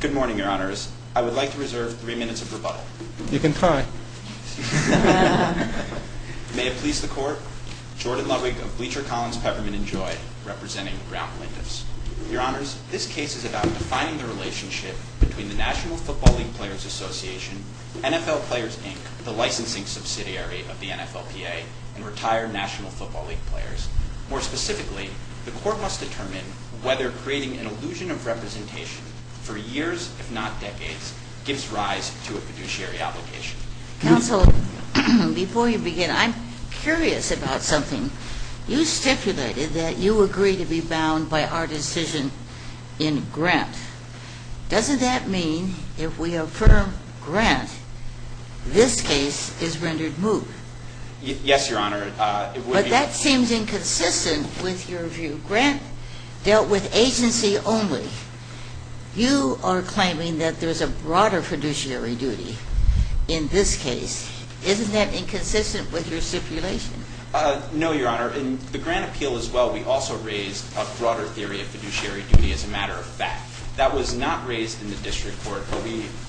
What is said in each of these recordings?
Good morning, your honors. I would like to reserve three minutes of rebuttal. You can try. May it please the court, Jordan Ludwig of Bleacher, Collins, Peppermint & Joy representing Brown plaintiffs. Your honors, this case is about defining the relationship between the National Football League Players Association, NFL Players, Inc., the licensing subsidiary of the NFLPA, and retired National Football League players. More specifically, the court must determine whether creating an illusion of representation for years, if not decades, gives rise to a fiduciary obligation. Counsel, before you begin, I'm curious about something. You stipulated that you agree to be bound by our decision in grant. Doesn't that mean if we affirm grant, this case is rendered moot? Yes, your honor. But that seems inconsistent with your view. Grant dealt with agency only. You are claiming that there's a broader fiduciary duty in this case. Isn't that inconsistent with your stipulation? No, your honor. In the grant appeal as well, we also raised a broader theory of fiduciary duty as a matter of fact. That was not raised in the district court.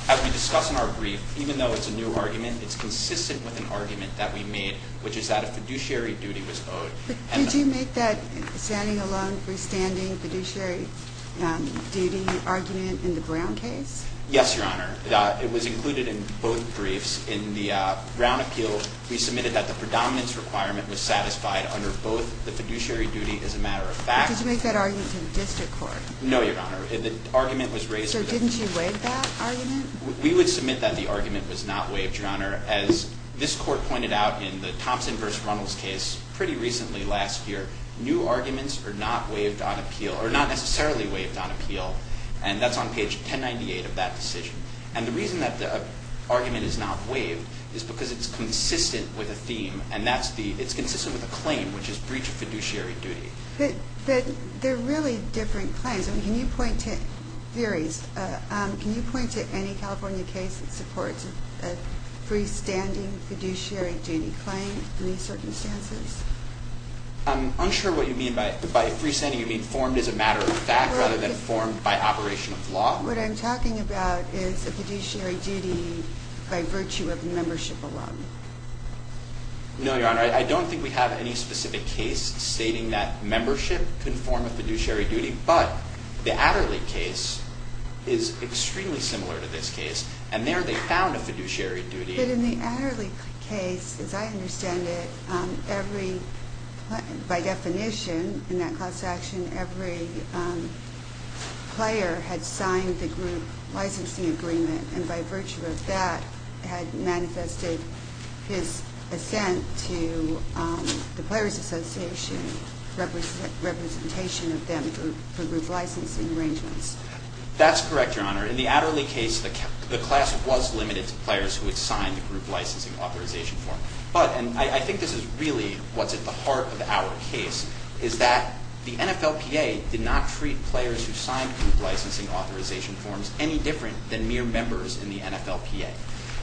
As we discuss in our brief, even though it's a new argument, it's consistent with an argument that we made, which is that a fiduciary duty was owed. Did you make that standing alone, freestanding fiduciary duty argument in the Brown case? Yes, your honor. It was included in both briefs. In the Brown appeal, we submitted that the predominance requirement was satisfied under both the fiduciary duty as a matter of fact. Did you make that argument to the district court? No, your honor. The argument was raised. So didn't you waive that argument? We would submit that the argument was not waived, your honor. As this court pointed out in the Thompson v. Runnels case pretty recently last year, new arguments are not necessarily waived on appeal, and that's on page 1098 of that decision. And the reason that the argument is not waived is because it's consistent with a theme, and it's consistent with a claim, which is breach of fiduciary duty. But they're really different claims. Can you point to any California case that supports a freestanding fiduciary duty claim in these circumstances? I'm unsure what you mean by freestanding. You mean formed as a matter of fact rather than formed by operation of law? What I'm talking about is a fiduciary duty by virtue of membership alone. No, your honor. I don't think we have any specific case stating that membership can form a fiduciary duty, but the Adderley case is extremely similar to this case, and there they found a fiduciary duty. But in the Adderley case, as I understand it, by definition in that class action, every player had signed the group licensing agreement, and by virtue of that had manifested his assent to the Players Association representation of them for group licensing arrangements. That's correct, your honor. In the Adderley case, the class was limited to players who had signed the group licensing authorization form. But, and I think this is really what's at the heart of our case, is that the NFLPA did not treat players who signed group licensing authorization forms any different than mere members in the NFLPA.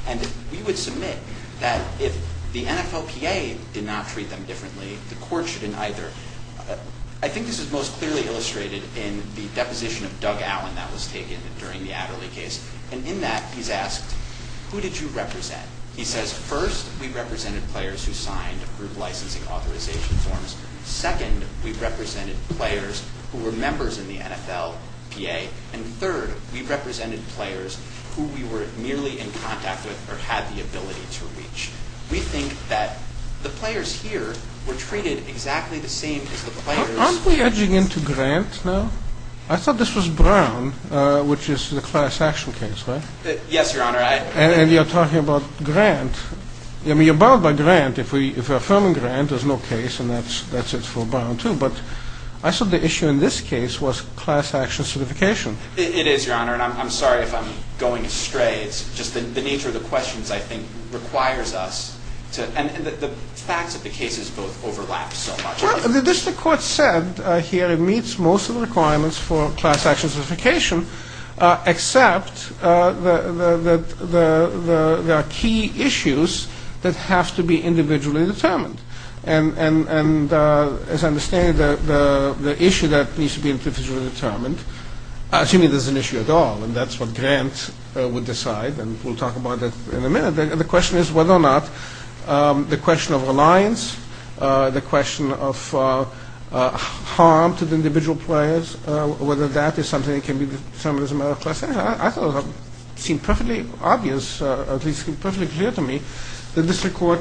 And we would submit that if the NFLPA did not treat them differently, the court shouldn't either. I think this is most clearly illustrated in the deposition of Doug Allen that was taken during the Adderley case. And in that, he's asked, who did you represent? He says, first, we represented players who signed group licensing authorization forms. Second, we represented players who were members in the NFLPA. And third, we represented players who we were merely in contact with or had the ability to reach. We think that the players here were treated exactly the same as the players... Aren't we edging into Grant now? I thought this was Brown, which is the class action case, right? Yes, your honor. And you're talking about Grant. I mean, you're bound by Grant. If we're affirming Grant, there's no case, and that's it for Brown, too. But I thought the issue in this case was class action certification. It is, your honor. And I'm sorry if I'm going astray. It's just the nature of the questions, I think, requires us to... And the facts of the cases both overlap so much. Well, the district court said here it meets most of the requirements for class action certification, except that there are key issues that have to be individually determined. And as I understand it, the issue that needs to be individually determined, assuming there's an issue at all, and that's what Grant would decide, and we'll talk about that in a minute, the question is whether or not the question of reliance, the question of harm to the individual players, whether that is something that can be determined as a matter of class action. I thought it seemed perfectly obvious, at least it seemed perfectly clear to me, that the district court,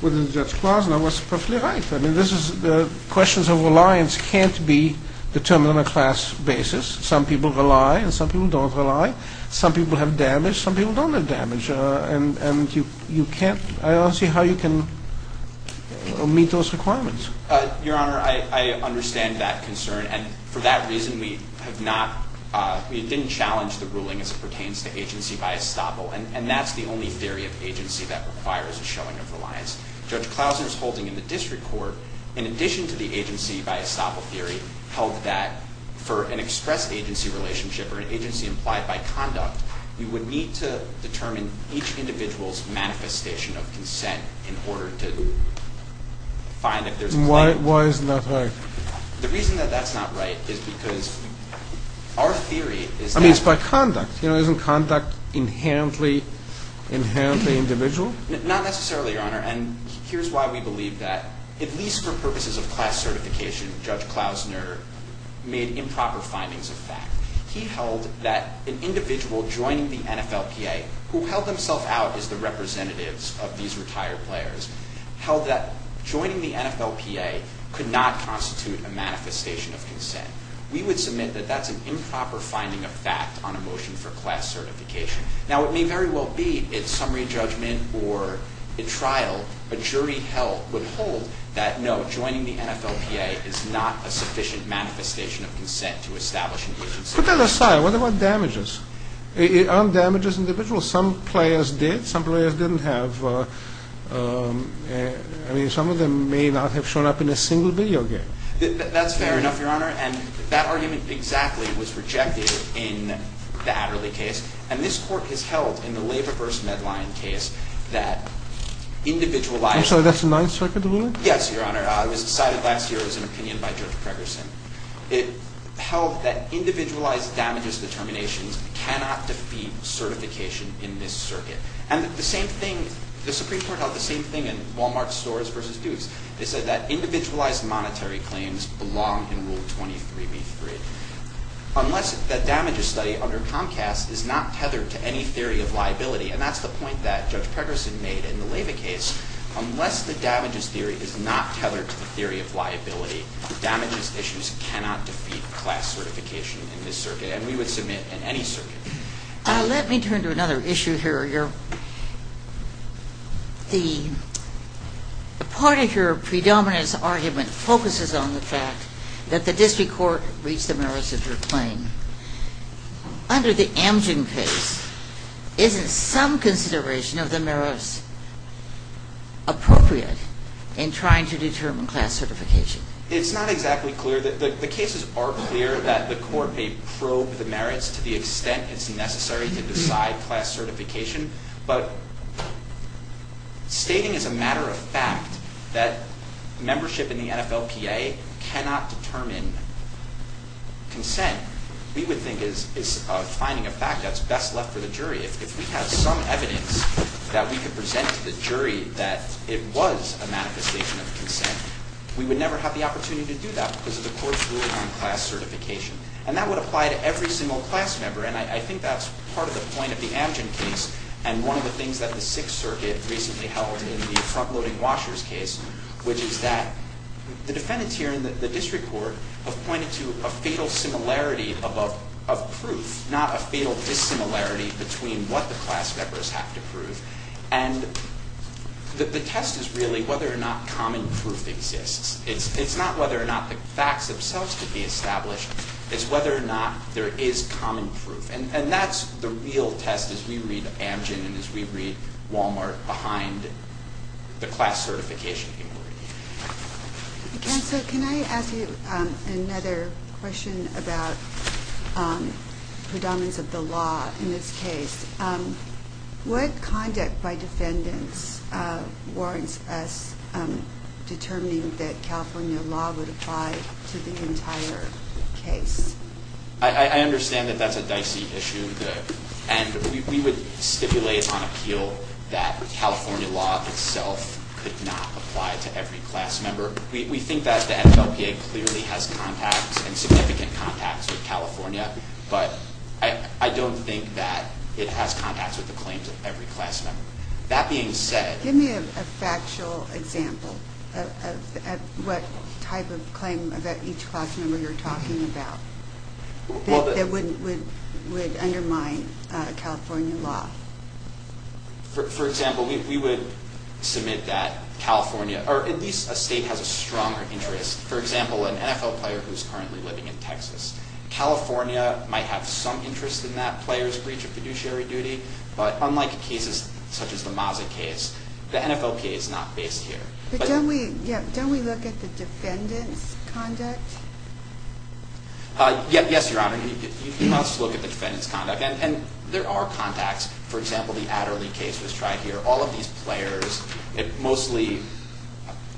within Judge Klosner, was perfectly right. I mean, the questions of reliance can't be determined on a class basis. Some people rely, and some people don't rely. Some people have damage. Some people don't have damage. And I don't see how you can meet those requirements. Your honor, I understand that concern. And for that reason, we have not, we didn't challenge the ruling as it pertains to agency by estoppel, and that's the only theory of agency that requires a showing of reliance. Judge Klosner's holding in the district court, in addition to the agency by estoppel theory, held that for an express agency relationship or an agency implied by conduct, you would need to determine each individual's manifestation of consent in order to find if there's a claim. Why isn't that right? The reason that that's not right is because our theory is that- I mean, it's by conduct. Isn't conduct inherently individual? Not necessarily, your honor. And here's why we believe that, at least for purposes of class certification, Judge Klosner made improper findings of fact. He held that an individual joining the NFLPA, who held himself out as the representatives of these retired players, held that joining the NFLPA could not constitute a manifestation of consent. We would submit that that's an improper finding of fact on a motion for class certification. Now, it may very well be, in summary judgment or in trial, a jury held that, no, joining the NFLPA is not a sufficient manifestation of consent to establish an agency. Put that aside. What about damages? Aren't damages individual? Some players did. Some players didn't have. I mean, some of them may not have shown up in a single video game. That's fair enough, your honor. And that argument exactly was rejected in the Adderley case. And this court has held in the labor-verse-med-line case that individualized- I'm sorry, that's the Ninth Circuit ruling? Yes, your honor. It was decided last year. It was an opinion by Judge Gregersen. It held that individualized damages determinations cannot defeat certification in this circuit. And the Supreme Court held the same thing in Wal-Mart's Storrs v. Dukes. They said that individualized monetary claims belong in Rule 23b-3. Unless the damages study under Comcast is not tethered to any theory of liability, and that's the point that Judge Gregersen made in the Lava case, unless the damages theory is not tethered to the theory of liability, damages issues cannot defeat class certification in this circuit, and we would submit in any circuit. Let me turn to another issue here, your honor. The part of your predominance argument focuses on the fact that the district court reached the merits of your claim. Under the Amgen case, isn't some consideration of the merits appropriate in trying to determine class certification? It's not exactly clear. The cases are clear that the court may probe the merits to the extent it's necessary to decide class certification, but stating as a matter of fact that membership in the NFLPA cannot determine consent, we would think is finding a fact that's best left for the jury. If we had some evidence that we could present to the jury that it was a manifestation of consent, we would never have the opportunity to do that because of the court's ruling on class certification, and that would apply to every single class member, and I think that's part of the point of the Amgen case, and one of the things that the Sixth Circuit recently held in the front-loading washers case, which is that the defendants here in the district court have pointed to a fatal similarity of proof, not a fatal dissimilarity between what the class members have to prove, and the test is really whether or not common proof exists. It's not whether or not the facts themselves could be established. It's whether or not there is common proof, and that's the real test as we read Amgen and as we read Walmart behind the class certification inquiry. Counsel, can I ask you another question about predominance of the law in this case? What conduct by defendants warrants us determining that California law would apply to the entire case? I understand that that's a dicey issue, and we would stipulate on appeal that California law itself could not apply to every class member. We think that the NFLPA clearly has contacts and significant contacts with California, but I don't think that it has contacts with the claims of every class member. That being said... Give me a factual example of what type of claim about each class member you're talking about that would undermine California law. For example, we would submit that California, or at least a state, has a stronger interest. For example, an NFL player who's currently living in Texas. California might have some interest in that player's breach of fiduciary duty, but unlike cases such as the Maza case, the NFLPA is not based here. But don't we look at the defendant's conduct? Yes, Your Honor. You must look at the defendant's conduct, and there are contacts. For example, the Adderley case was tried here. All of these players mostly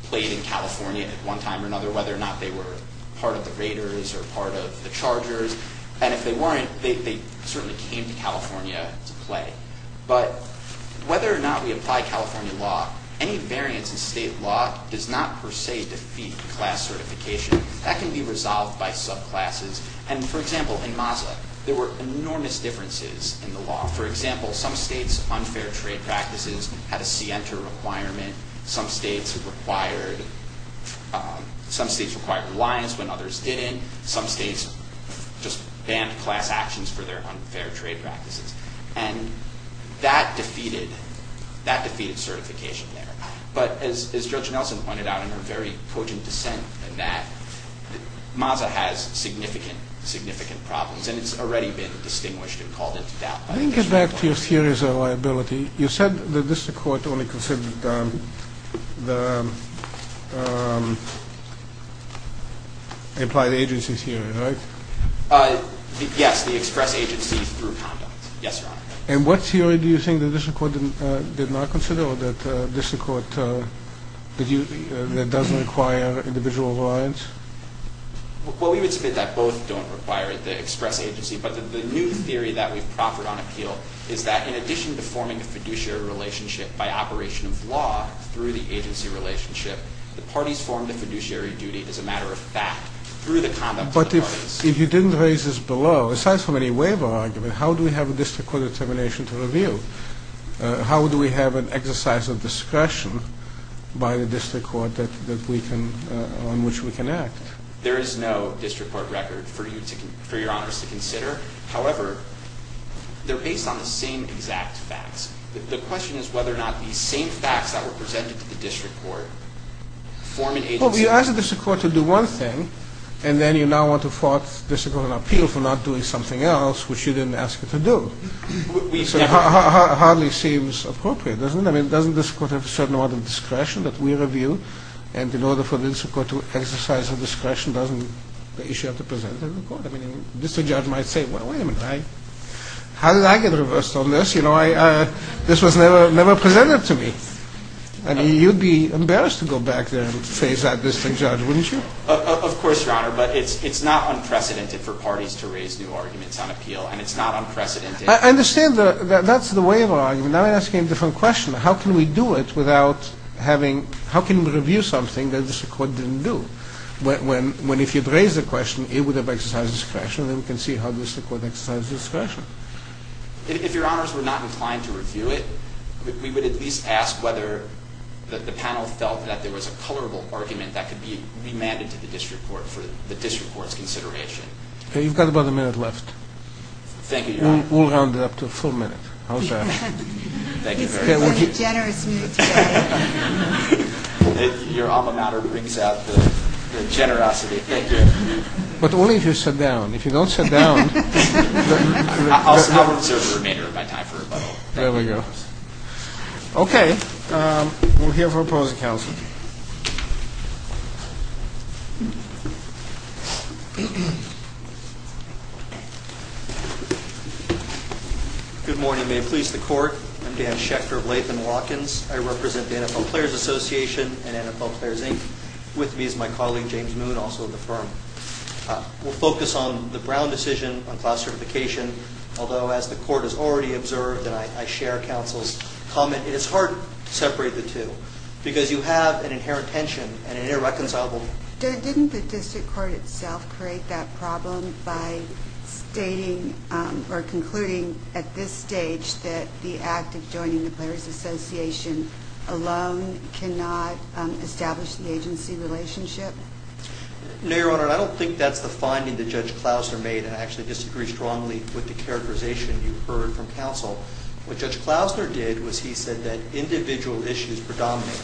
played in California at one time or another, whether or not they were part of the Raiders or part of the Chargers. And if they weren't, they certainly came to California to play. But whether or not we apply California law, any variance in state law does not per se defeat class certification. That can be resolved by subclasses. And, for example, in Maza, there were enormous differences in the law. For example, some states' unfair trade practices had a SIENTA requirement. Some states required reliance when others didn't. Some states just banned class actions for their unfair trade practices. And that defeated certification there. But as Judge Nelson pointed out in her very potent dissent in that, Maza has significant, significant problems, and it's already been distinguished and called into doubt by the district court. Let me get back to your theories of liability. You said the district court only considered the implied agency theory, right? Yes, the express agency through conduct. Yes, Your Honor. And what theory do you think the district court did not consider or the district court that doesn't require individual reliance? Well, we would submit that both don't require the express agency, but the new theory that we've proffered on appeal is that, in addition to forming a fiduciary relationship by operation of law through the agency relationship, the parties form the fiduciary duty as a matter of fact through the conduct of the parties. But if you didn't raise this below, aside from any waiver argument, how do we have a district court determination to review? How do we have an exercise of discretion by the district court on which we can act? There is no district court record for Your Honors to consider. However, they're based on the same exact facts. The question is whether or not these same facts that were presented to the district court form an agency? Well, we asked the district court to do one thing, and then you now want to force the district court on appeal for not doing something else, which you didn't ask it to do. So it hardly seems appropriate, doesn't it? I mean, doesn't the district court have a certain amount of discretion that we review? And in order for the district court to exercise the discretion, doesn't the issue have to be presented to the court? I mean, the district judge might say, well, wait a minute. How did I get reversed on this? You know, this was never presented to me. I mean, you'd be embarrassed to go back there and face that district judge, wouldn't you? Of course, Your Honor. But it's not unprecedented for parties to raise new arguments on appeal, and it's not unprecedented. I understand that that's the way of arguing. Now I'm asking a different question. How can we do it without having – how can we review something that the district court didn't do? When if you'd raised the question, it would have exercised discretion, then we can see how the district court exercised discretion. If Your Honors were not inclined to review it, we would at least ask whether the panel felt that there was a colorable argument that could be remanded to the district court for the district court's consideration. Okay, you've got about a minute left. Thank you, Your Honor. We'll round it up to a full minute. How's that? Thank you very much. Your alma mater brings out the generosity. Thank you. But only if you sit down. If you don't sit down. I'll observe the remainder of my time for rebuttal. There we go. Okay. We'll hear from opposing counsel. Good morning. May it please the court. I'm Dan Schechter of Latham Watkins. I represent the NFL Players Association and NFL Players, Inc. With me is my colleague, James Moon, also of the firm. We'll focus on the Brown decision on class certification, although as the court has already observed and I share counsel's comment, it is hard to separate the two because you have an inherent tension and an irreconcilable one. Didn't the district court itself create that problem by stating or concluding at this stage that the act of joining the Players Association alone cannot establish the agency relationship? No, Your Honor. I don't think that's the finding that Judge Klausner made. I actually disagree strongly with the characterization you heard from counsel. What Judge Klausner did was he said that individual issues predominate.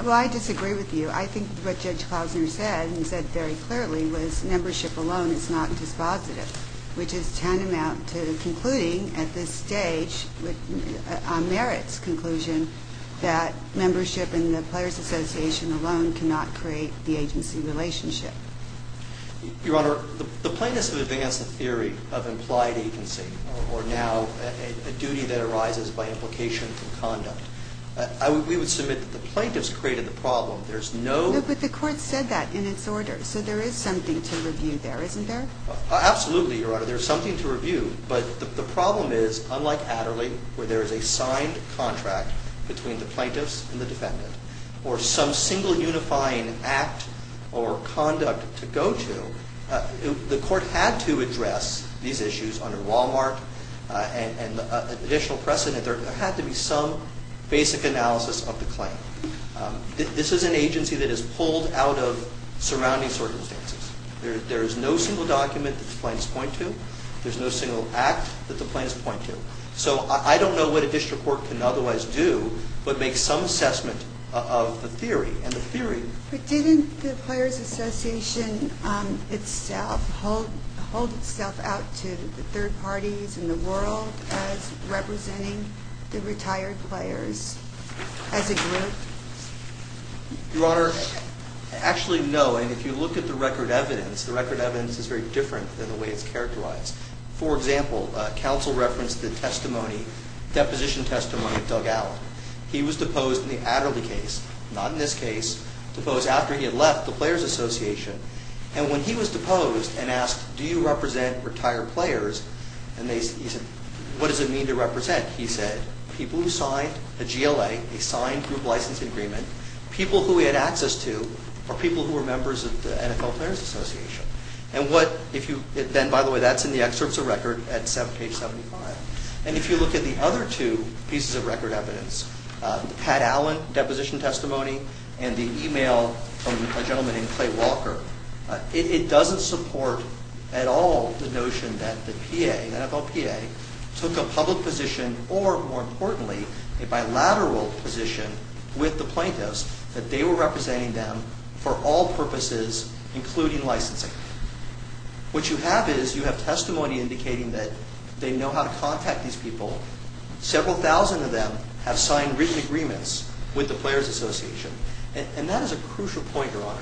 Well, I disagree with you. I think what Judge Klausner said, and he said very clearly, was membership alone is not dispositive, which is tantamount to concluding at this stage on Merritt's conclusion that membership in the Players Association alone cannot create the agency relationship. Your Honor, the plaintiffs have advanced the theory of implied agency or now a duty that arises by implication from conduct. We would submit that the plaintiffs created the problem. There's no – But the court said that in its order, so there is something to review there, isn't there? Absolutely, Your Honor. There's something to review, but the problem is, unlike Adderley, where there is a signed contract between the plaintiffs and the defendant or some single unifying act or conduct to go to, the court had to address these issues under Walmart and additional precedent. There had to be some basic analysis of the claim. This is an agency that is pulled out of surrounding circumstances. There is no single document that the plaintiffs point to. There's no single act that the plaintiffs point to. So I don't know what a district court can otherwise do but make some assessment of the theory. But didn't the Players Association itself hold itself out to the third parties in the world as representing the retired players as a group? Your Honor, actually, no. And if you look at the record evidence, For example, counsel referenced the deposition testimony of Doug Allen. He was deposed in the Adderley case, not in this case, deposed after he had left the Players Association. And when he was deposed and asked, Do you represent retired players? And he said, What does it mean to represent? He said, People who signed a GLA, a signed group licensing agreement, people who he had access to, are people who are members of the NFL Players Association. Then, by the way, that's in the excerpts of record at page 75. And if you look at the other two pieces of record evidence, the Pat Allen deposition testimony and the email from a gentleman named Clay Walker, it doesn't support at all the notion that the PA, the NFL PA, took a public position or, more importantly, a bilateral position with the plaintiffs that they were representing them for all purposes, including licensing. What you have is, you have testimony indicating that they know how to contact these people. Several thousand of them have signed written agreements with the Players Association. And that is a crucial point, Your Honor.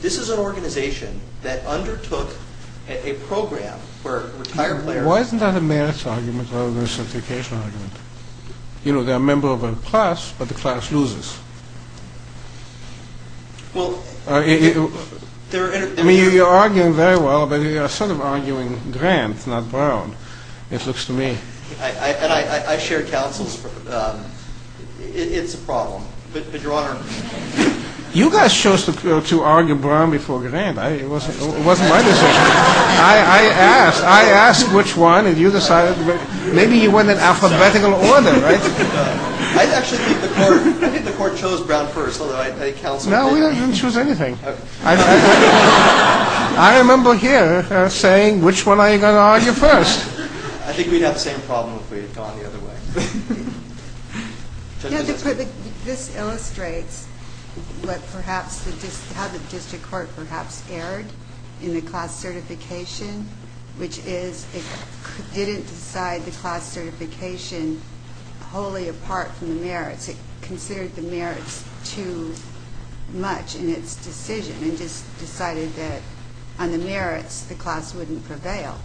This is an organization that undertook a program where retired players... Why isn't that a merits argument rather than a certification argument? You know, they're a member of a class, but the class loses. Well... I mean, you're arguing very well, but you're sort of arguing Grant, not Brown, it looks to me. And I share counsels. It's a problem, but, Your Honor... You guys chose to argue Brown before Grant. It wasn't my decision. I asked. I asked which one, and you decided. Maybe you went in alphabetical order, right? I actually think the court chose Brown first, although I counsel... No, we didn't choose anything. I remember here saying, which one are you going to argue first? I think we'd have the same problem if we had gone the other way. This illustrates how the district court perhaps erred in the class certification, which is it didn't decide the class certification wholly apart from the merits. It considered the merits too much in its decision and just decided that on the merits, the class wouldn't prevail.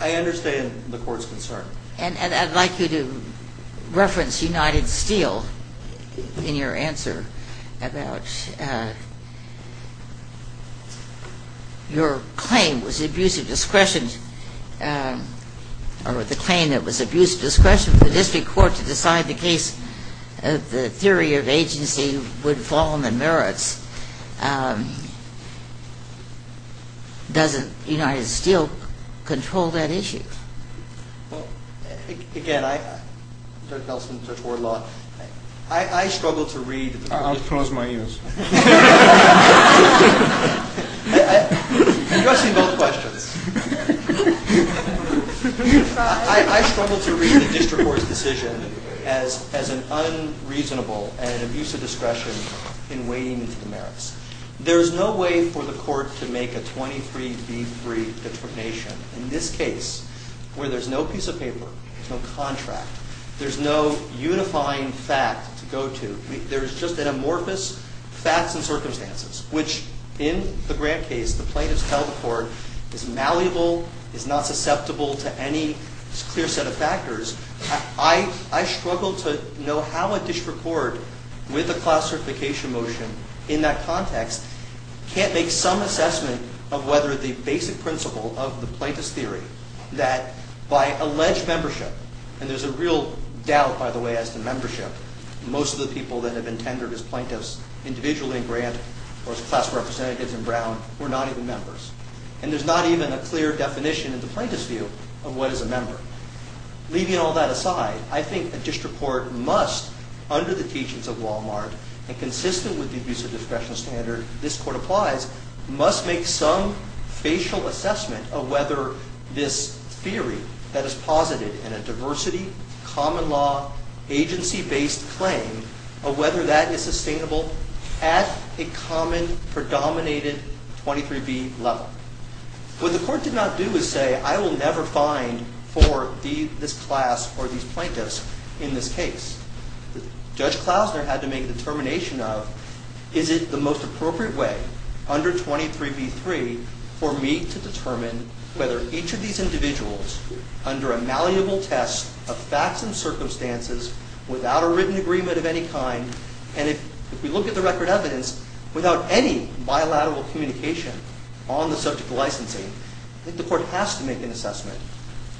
I understand the court's concern. And I'd like you to reference United Steel in your answer about your claim was abusive discretion, or the claim that was abusive discretion for the district court to decide the case of the theory of agency would fall on the merits. Doesn't United Steel control that issue? Again, I... Judge Nelson, Judge Wardlaw, I struggle to read... I'll close my ears. You're asking both questions. I struggle to read the district court's decision as an unreasonable and abusive discretion in wading into the merits. There's no way for the court to make a 23B3 determination. In this case, where there's no piece of paper, no contract, there's no unifying fact to go to. There's just an amorphous facts and circumstances, which in the Grant case, the plaintiffs tell the court, is malleable, is not susceptible to any clear set of factors. I struggle to know how a district court with a class certification motion in that context can't make some assessment of whether the basic principle of the plaintiff's theory, that by alleged membership... And there's a real doubt, by the way, as to membership. Most of the people that have been tendered as plaintiffs individually in Grant or as class representatives in Brown were not even members. And there's not even a clear definition in the plaintiff's view of what is a member. Leaving all that aside, I think a district court must, under the teachings of Walmart and consistent with the abusive discretion standard this court applies, must make some facial assessment of whether this theory that is posited in a diversity, common law, agency-based claim, of whether that is sustainable at a common, predominated 23B level. What the court did not do is say, I will never find for this class or these plaintiffs in this case. Judge Klausner had to make a determination of, is it the most appropriate way under 23B.3 for me to determine whether each of these individuals under a malleable test of facts and circumstances without a written agreement of any kind, and if we look at the record evidence, without any bilateral communication on the subject of licensing, I think the court has to make an assessment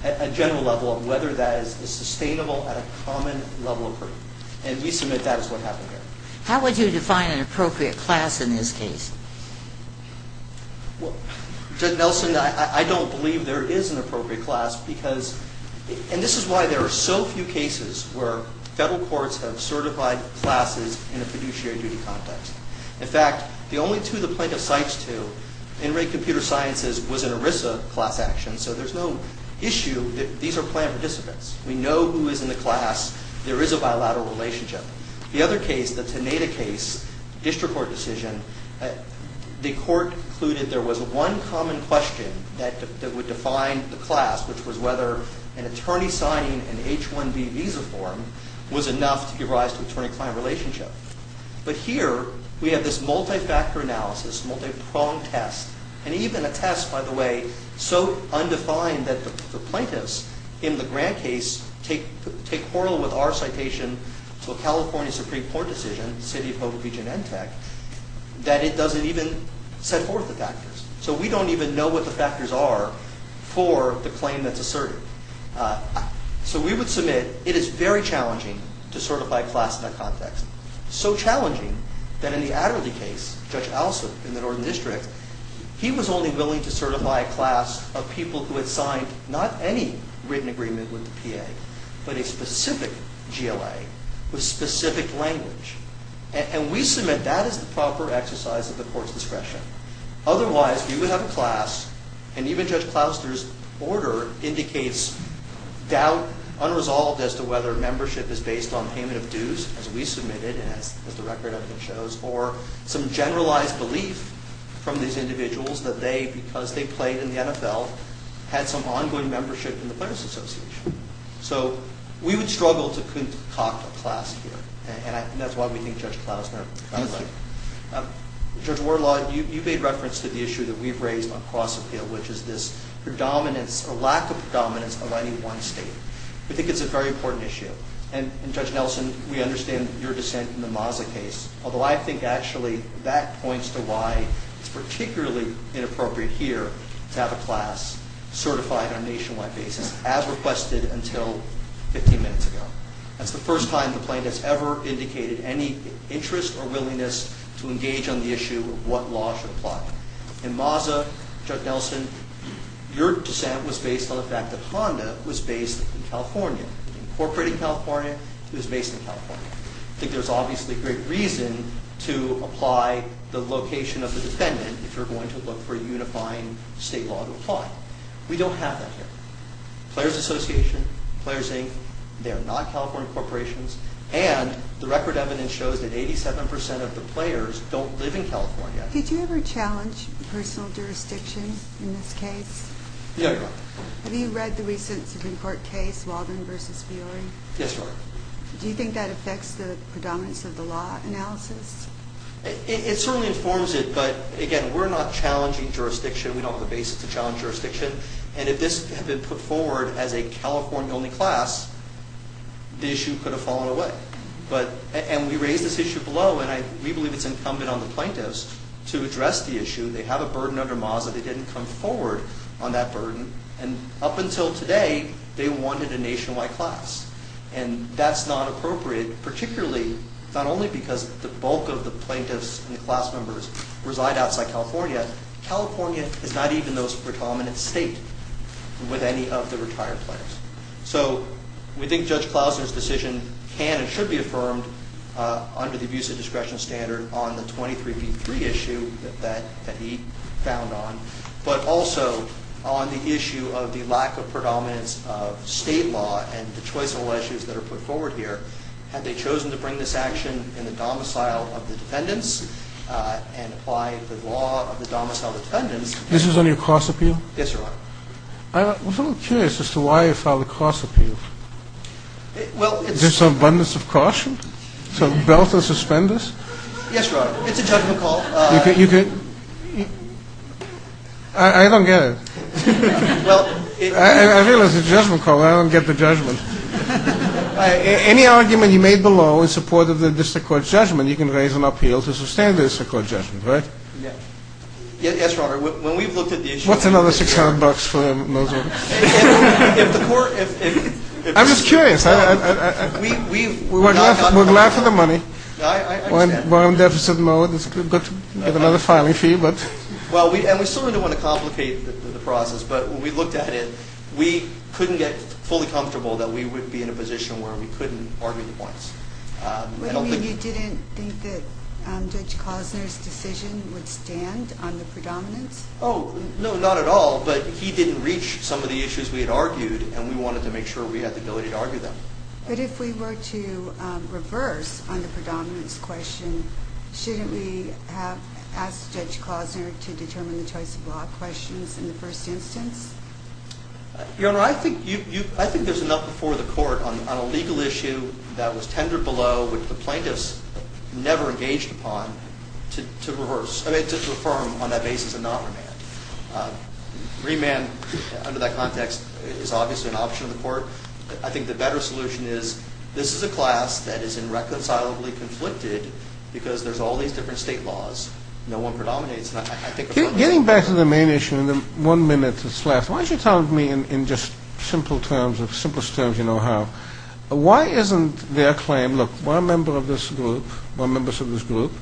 at a general level of whether that is sustainable at a common level of proof. And we submit that is what happened here. How would you define an appropriate class in this case? Judge Nelson, I don't believe there is an appropriate class because, and this is why there are so few cases where federal courts have certified classes in a fiduciary duty context. In fact, the only two the plaintiff cites to in rate computer sciences was an ERISA class action, so there's no issue that these are planned participants. We know who is in the class. There is a bilateral relationship. The other case, the Teneda case, district court decision, the court concluded there was one common question that would define the class, which was whether an attorney signing an H-1B visa form was enough to give rise to attorney-client relationship. But here we have this multi-factor analysis, multi-pronged test, and even a test, by the way, so undefined that the plaintiffs in the Grant case take horror with our citation to a California Supreme Court decision, the city of Hope Beach in NTEC, that it doesn't even set forth the factors. So we don't even know what the factors are for the claim that's asserted. So we would submit it is very challenging to certify a class in that context, so challenging that in the Adderley case, Judge Alsup in the Northern District, he was only willing to certify a class of people who had signed not any written agreement with the PA, but a specific GLA with specific language. And we submit that is the proper exercise of the court's discretion. Otherwise, we would have a class, and even Judge Clouster's order indicates doubt unresolved as to whether membership is based on payment of dues, as we submitted and as the record shows, or some generalized belief from these individuals that they, because they played in the NFL, had some ongoing membership in the Players Association. So we would struggle to concoct a class here, and that's why we think Judge Clouster got it right. Judge Warlaw, you made reference to the issue that we've raised on cross-appeal, which is this lack of predominance of any one state. We think it's a very important issue. And Judge Nelson, we understand your dissent in the Maza case, although I think actually that points to why it's particularly inappropriate here to have a class certified on a nationwide basis, as requested until 15 minutes ago. That's the first time the plaintiff's ever indicated any interest or willingness to engage on the issue of what law should apply. In Maza, Judge Nelson, your dissent was based on the fact that Honda was based in California, incorporated in California, was based in California. I think there's obviously great reason to apply the location of the defendant if you're going to look for a unifying state law to apply. We don't have that here. Players Association, Players, Inc., they are not California corporations, and the record evidence shows that 87% of the players don't live in California. Did you ever challenge personal jurisdiction in this case? Yeah, I did. Have you read the recent Supreme Court case, Walden v. Fiore? Yes, Your Honor. Do you think that affects the predominance of the law analysis? It certainly informs it, but again, we're not challenging jurisdiction. We don't have the basis to challenge jurisdiction. And if this had been put forward as a California-only class, the issue could have fallen away. And we raised this issue below, and we believe it's incumbent on the plaintiffs to address the issue. They have a burden under Maza. They didn't come forward on that burden. And up until today, they wanted a nationwide class. And that's not appropriate, particularly not only because the bulk of the plaintiffs and the class members reside outside California. California is not even those predominant states with any of the retired players. So we think Judge Klausner's decision can and should be affirmed under the abuse of discretion standard on the 23B3 issue that he found on, but also on the issue of the lack of predominance of state law and the choice of law issues that are put forward here. Had they chosen to bring this action in the domicile of the defendants and apply the law of the domicile of the defendants... This is on your cross appeal? Yes, Your Honor. I was a little curious as to why you filed a cross appeal. Well, it's... Is there some abundance of caution? Some belt of suspense? Yes, Your Honor. It's a judgment call. You could... I don't get it. I realize it's a judgment call. I don't get the judgment. Any argument you made below in support of the district court's judgment, you can raise an appeal to sustain the district court's judgment, right? Yes, Your Honor. When we've looked at the issue... What's another $600 for him? If the court... I'm just curious. We're glad for the money. I understand. We're on deficit mode. It's good to get another filing fee, but... We still didn't want to complicate the process, but when we looked at it, we couldn't get fully comfortable that we would be in a position where we couldn't argue the points. You didn't think that Judge Klozner's decision would stand on the predominance? No, not at all, but he didn't reach some of the issues we had argued, and we wanted to make sure we had the ability to argue them. But if we were to reverse on the predominance question, shouldn't we have asked Judge Klozner to determine the choice of law questions in the first instance? Your Honor, I think there's enough before the court on a legal issue that was tendered below, which the plaintiffs never engaged upon, to affirm on that basis and not remand. Remand, under that context, is obviously an option in the court. I think the better solution is, this is a class that is irreconcilably conflicted because there's all these different state laws. No one predominates. Getting back to the main issue, in the one minute that's left, why don't you tell me, in just simplest terms you know how, why isn't their claim, look, we're a member of this group, we're members of this group,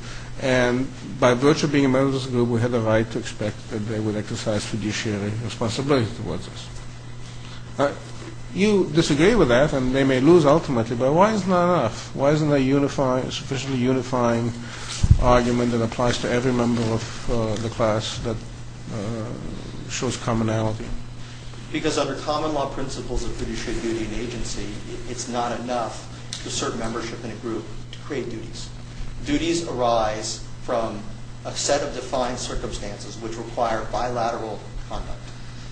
and by virtue of being a member of this group, we have the right to expect that they would exercise fiduciary responsibilities towards us. You disagree with that, and they may lose ultimately, but why isn't that enough? It's a common argument that applies to every member of the class that shows commonality. Because under common law principles of fiduciary duty and agency, it's not enough to assert membership in a group to create duties. Duties arise from a set of defined circumstances which require bilateral conduct.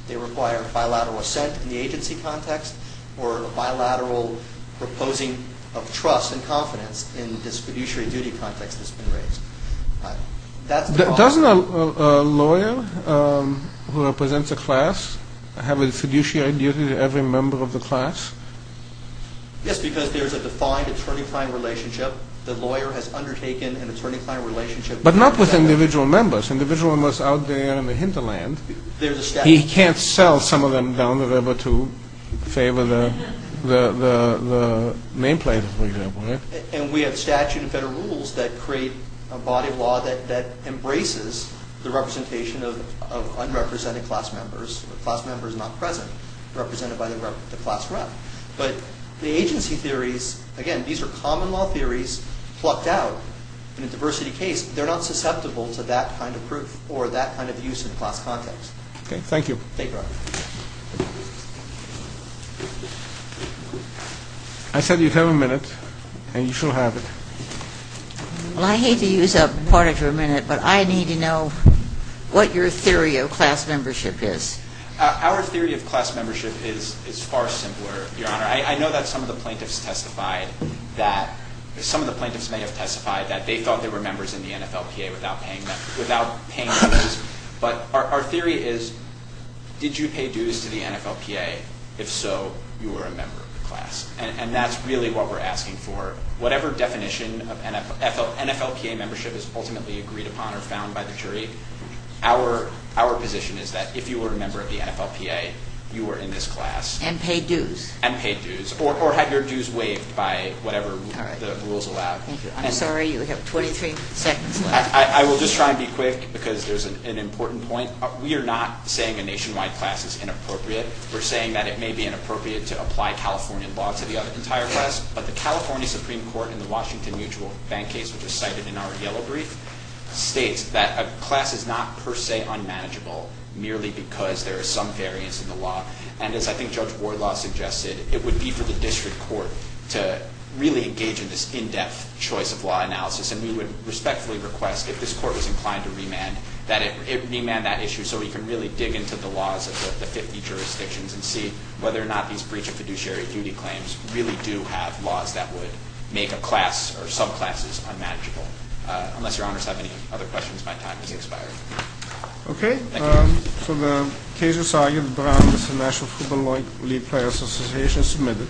They require bilateral assent in the agency context, or bilateral proposing of trust and confidence in this fiduciary duty context that's been raised. Doesn't a lawyer who represents a class have a fiduciary duty to every member of the class? Yes, because there's a defined attorney-client relationship. The lawyer has undertaken an attorney-client relationship. But not with individual members. Individual members out there in the hinterland. He can't sell some of them down the river to favor the main plaintiff, for example. And we have statute and federal rules that create a body of law that embraces the representation of unrepresented class members, class members not present, represented by the class rep. But the agency theories, again, these are common law theories plucked out in a diversity case. They're not susceptible or that kind of use in a class context. Okay, thank you. Thank you, Robert. I said you'd have a minute, and you shall have it. Well, I hate to use up part of your minute, but I need to know what your theory of class membership is. Our theory of class membership is far simpler, Your Honor. I know that some of the plaintiffs testified that, some of the plaintiffs may have testified that they thought they were members in the NFLPA without paying dues. But our theory is, did you pay dues to the NFLPA if so, you were a member of the class? And that's really what we're asking for. Whatever definition of NFLPA membership is ultimately agreed upon or found by the jury, our position is that if you were a member of the NFLPA, you were in this class. And paid dues. And paid dues. Or had your dues waived by whatever the rules allowed. I'm sorry, you have 23 seconds left. I will just try and be quick because there's an important point. We are not saying that applying a nationwide class is inappropriate. We're saying that it may be inappropriate to apply Californian law to the entire class. But the California Supreme Court in the Washington Mutual Bank case, which was cited in our yellow brief, states that a class is not, per se, unmanageable merely because there is some variance in the law. And as I think Judge Wardlaw suggested, it would be for the district court to really engage in this in-depth choice of law analysis. And we would respectfully request, if this court was inclined to remand, that it remand that issue so we can really dig into the laws of the 50 jurisdictions and see whether or not these breach of fiduciary duty claims really do have laws that would make a class or subclasses unmanageable. Unless your honors have any other questions, my time has expired. Okay. So the case is argued, Brown v. National Football League Players Association, submitted.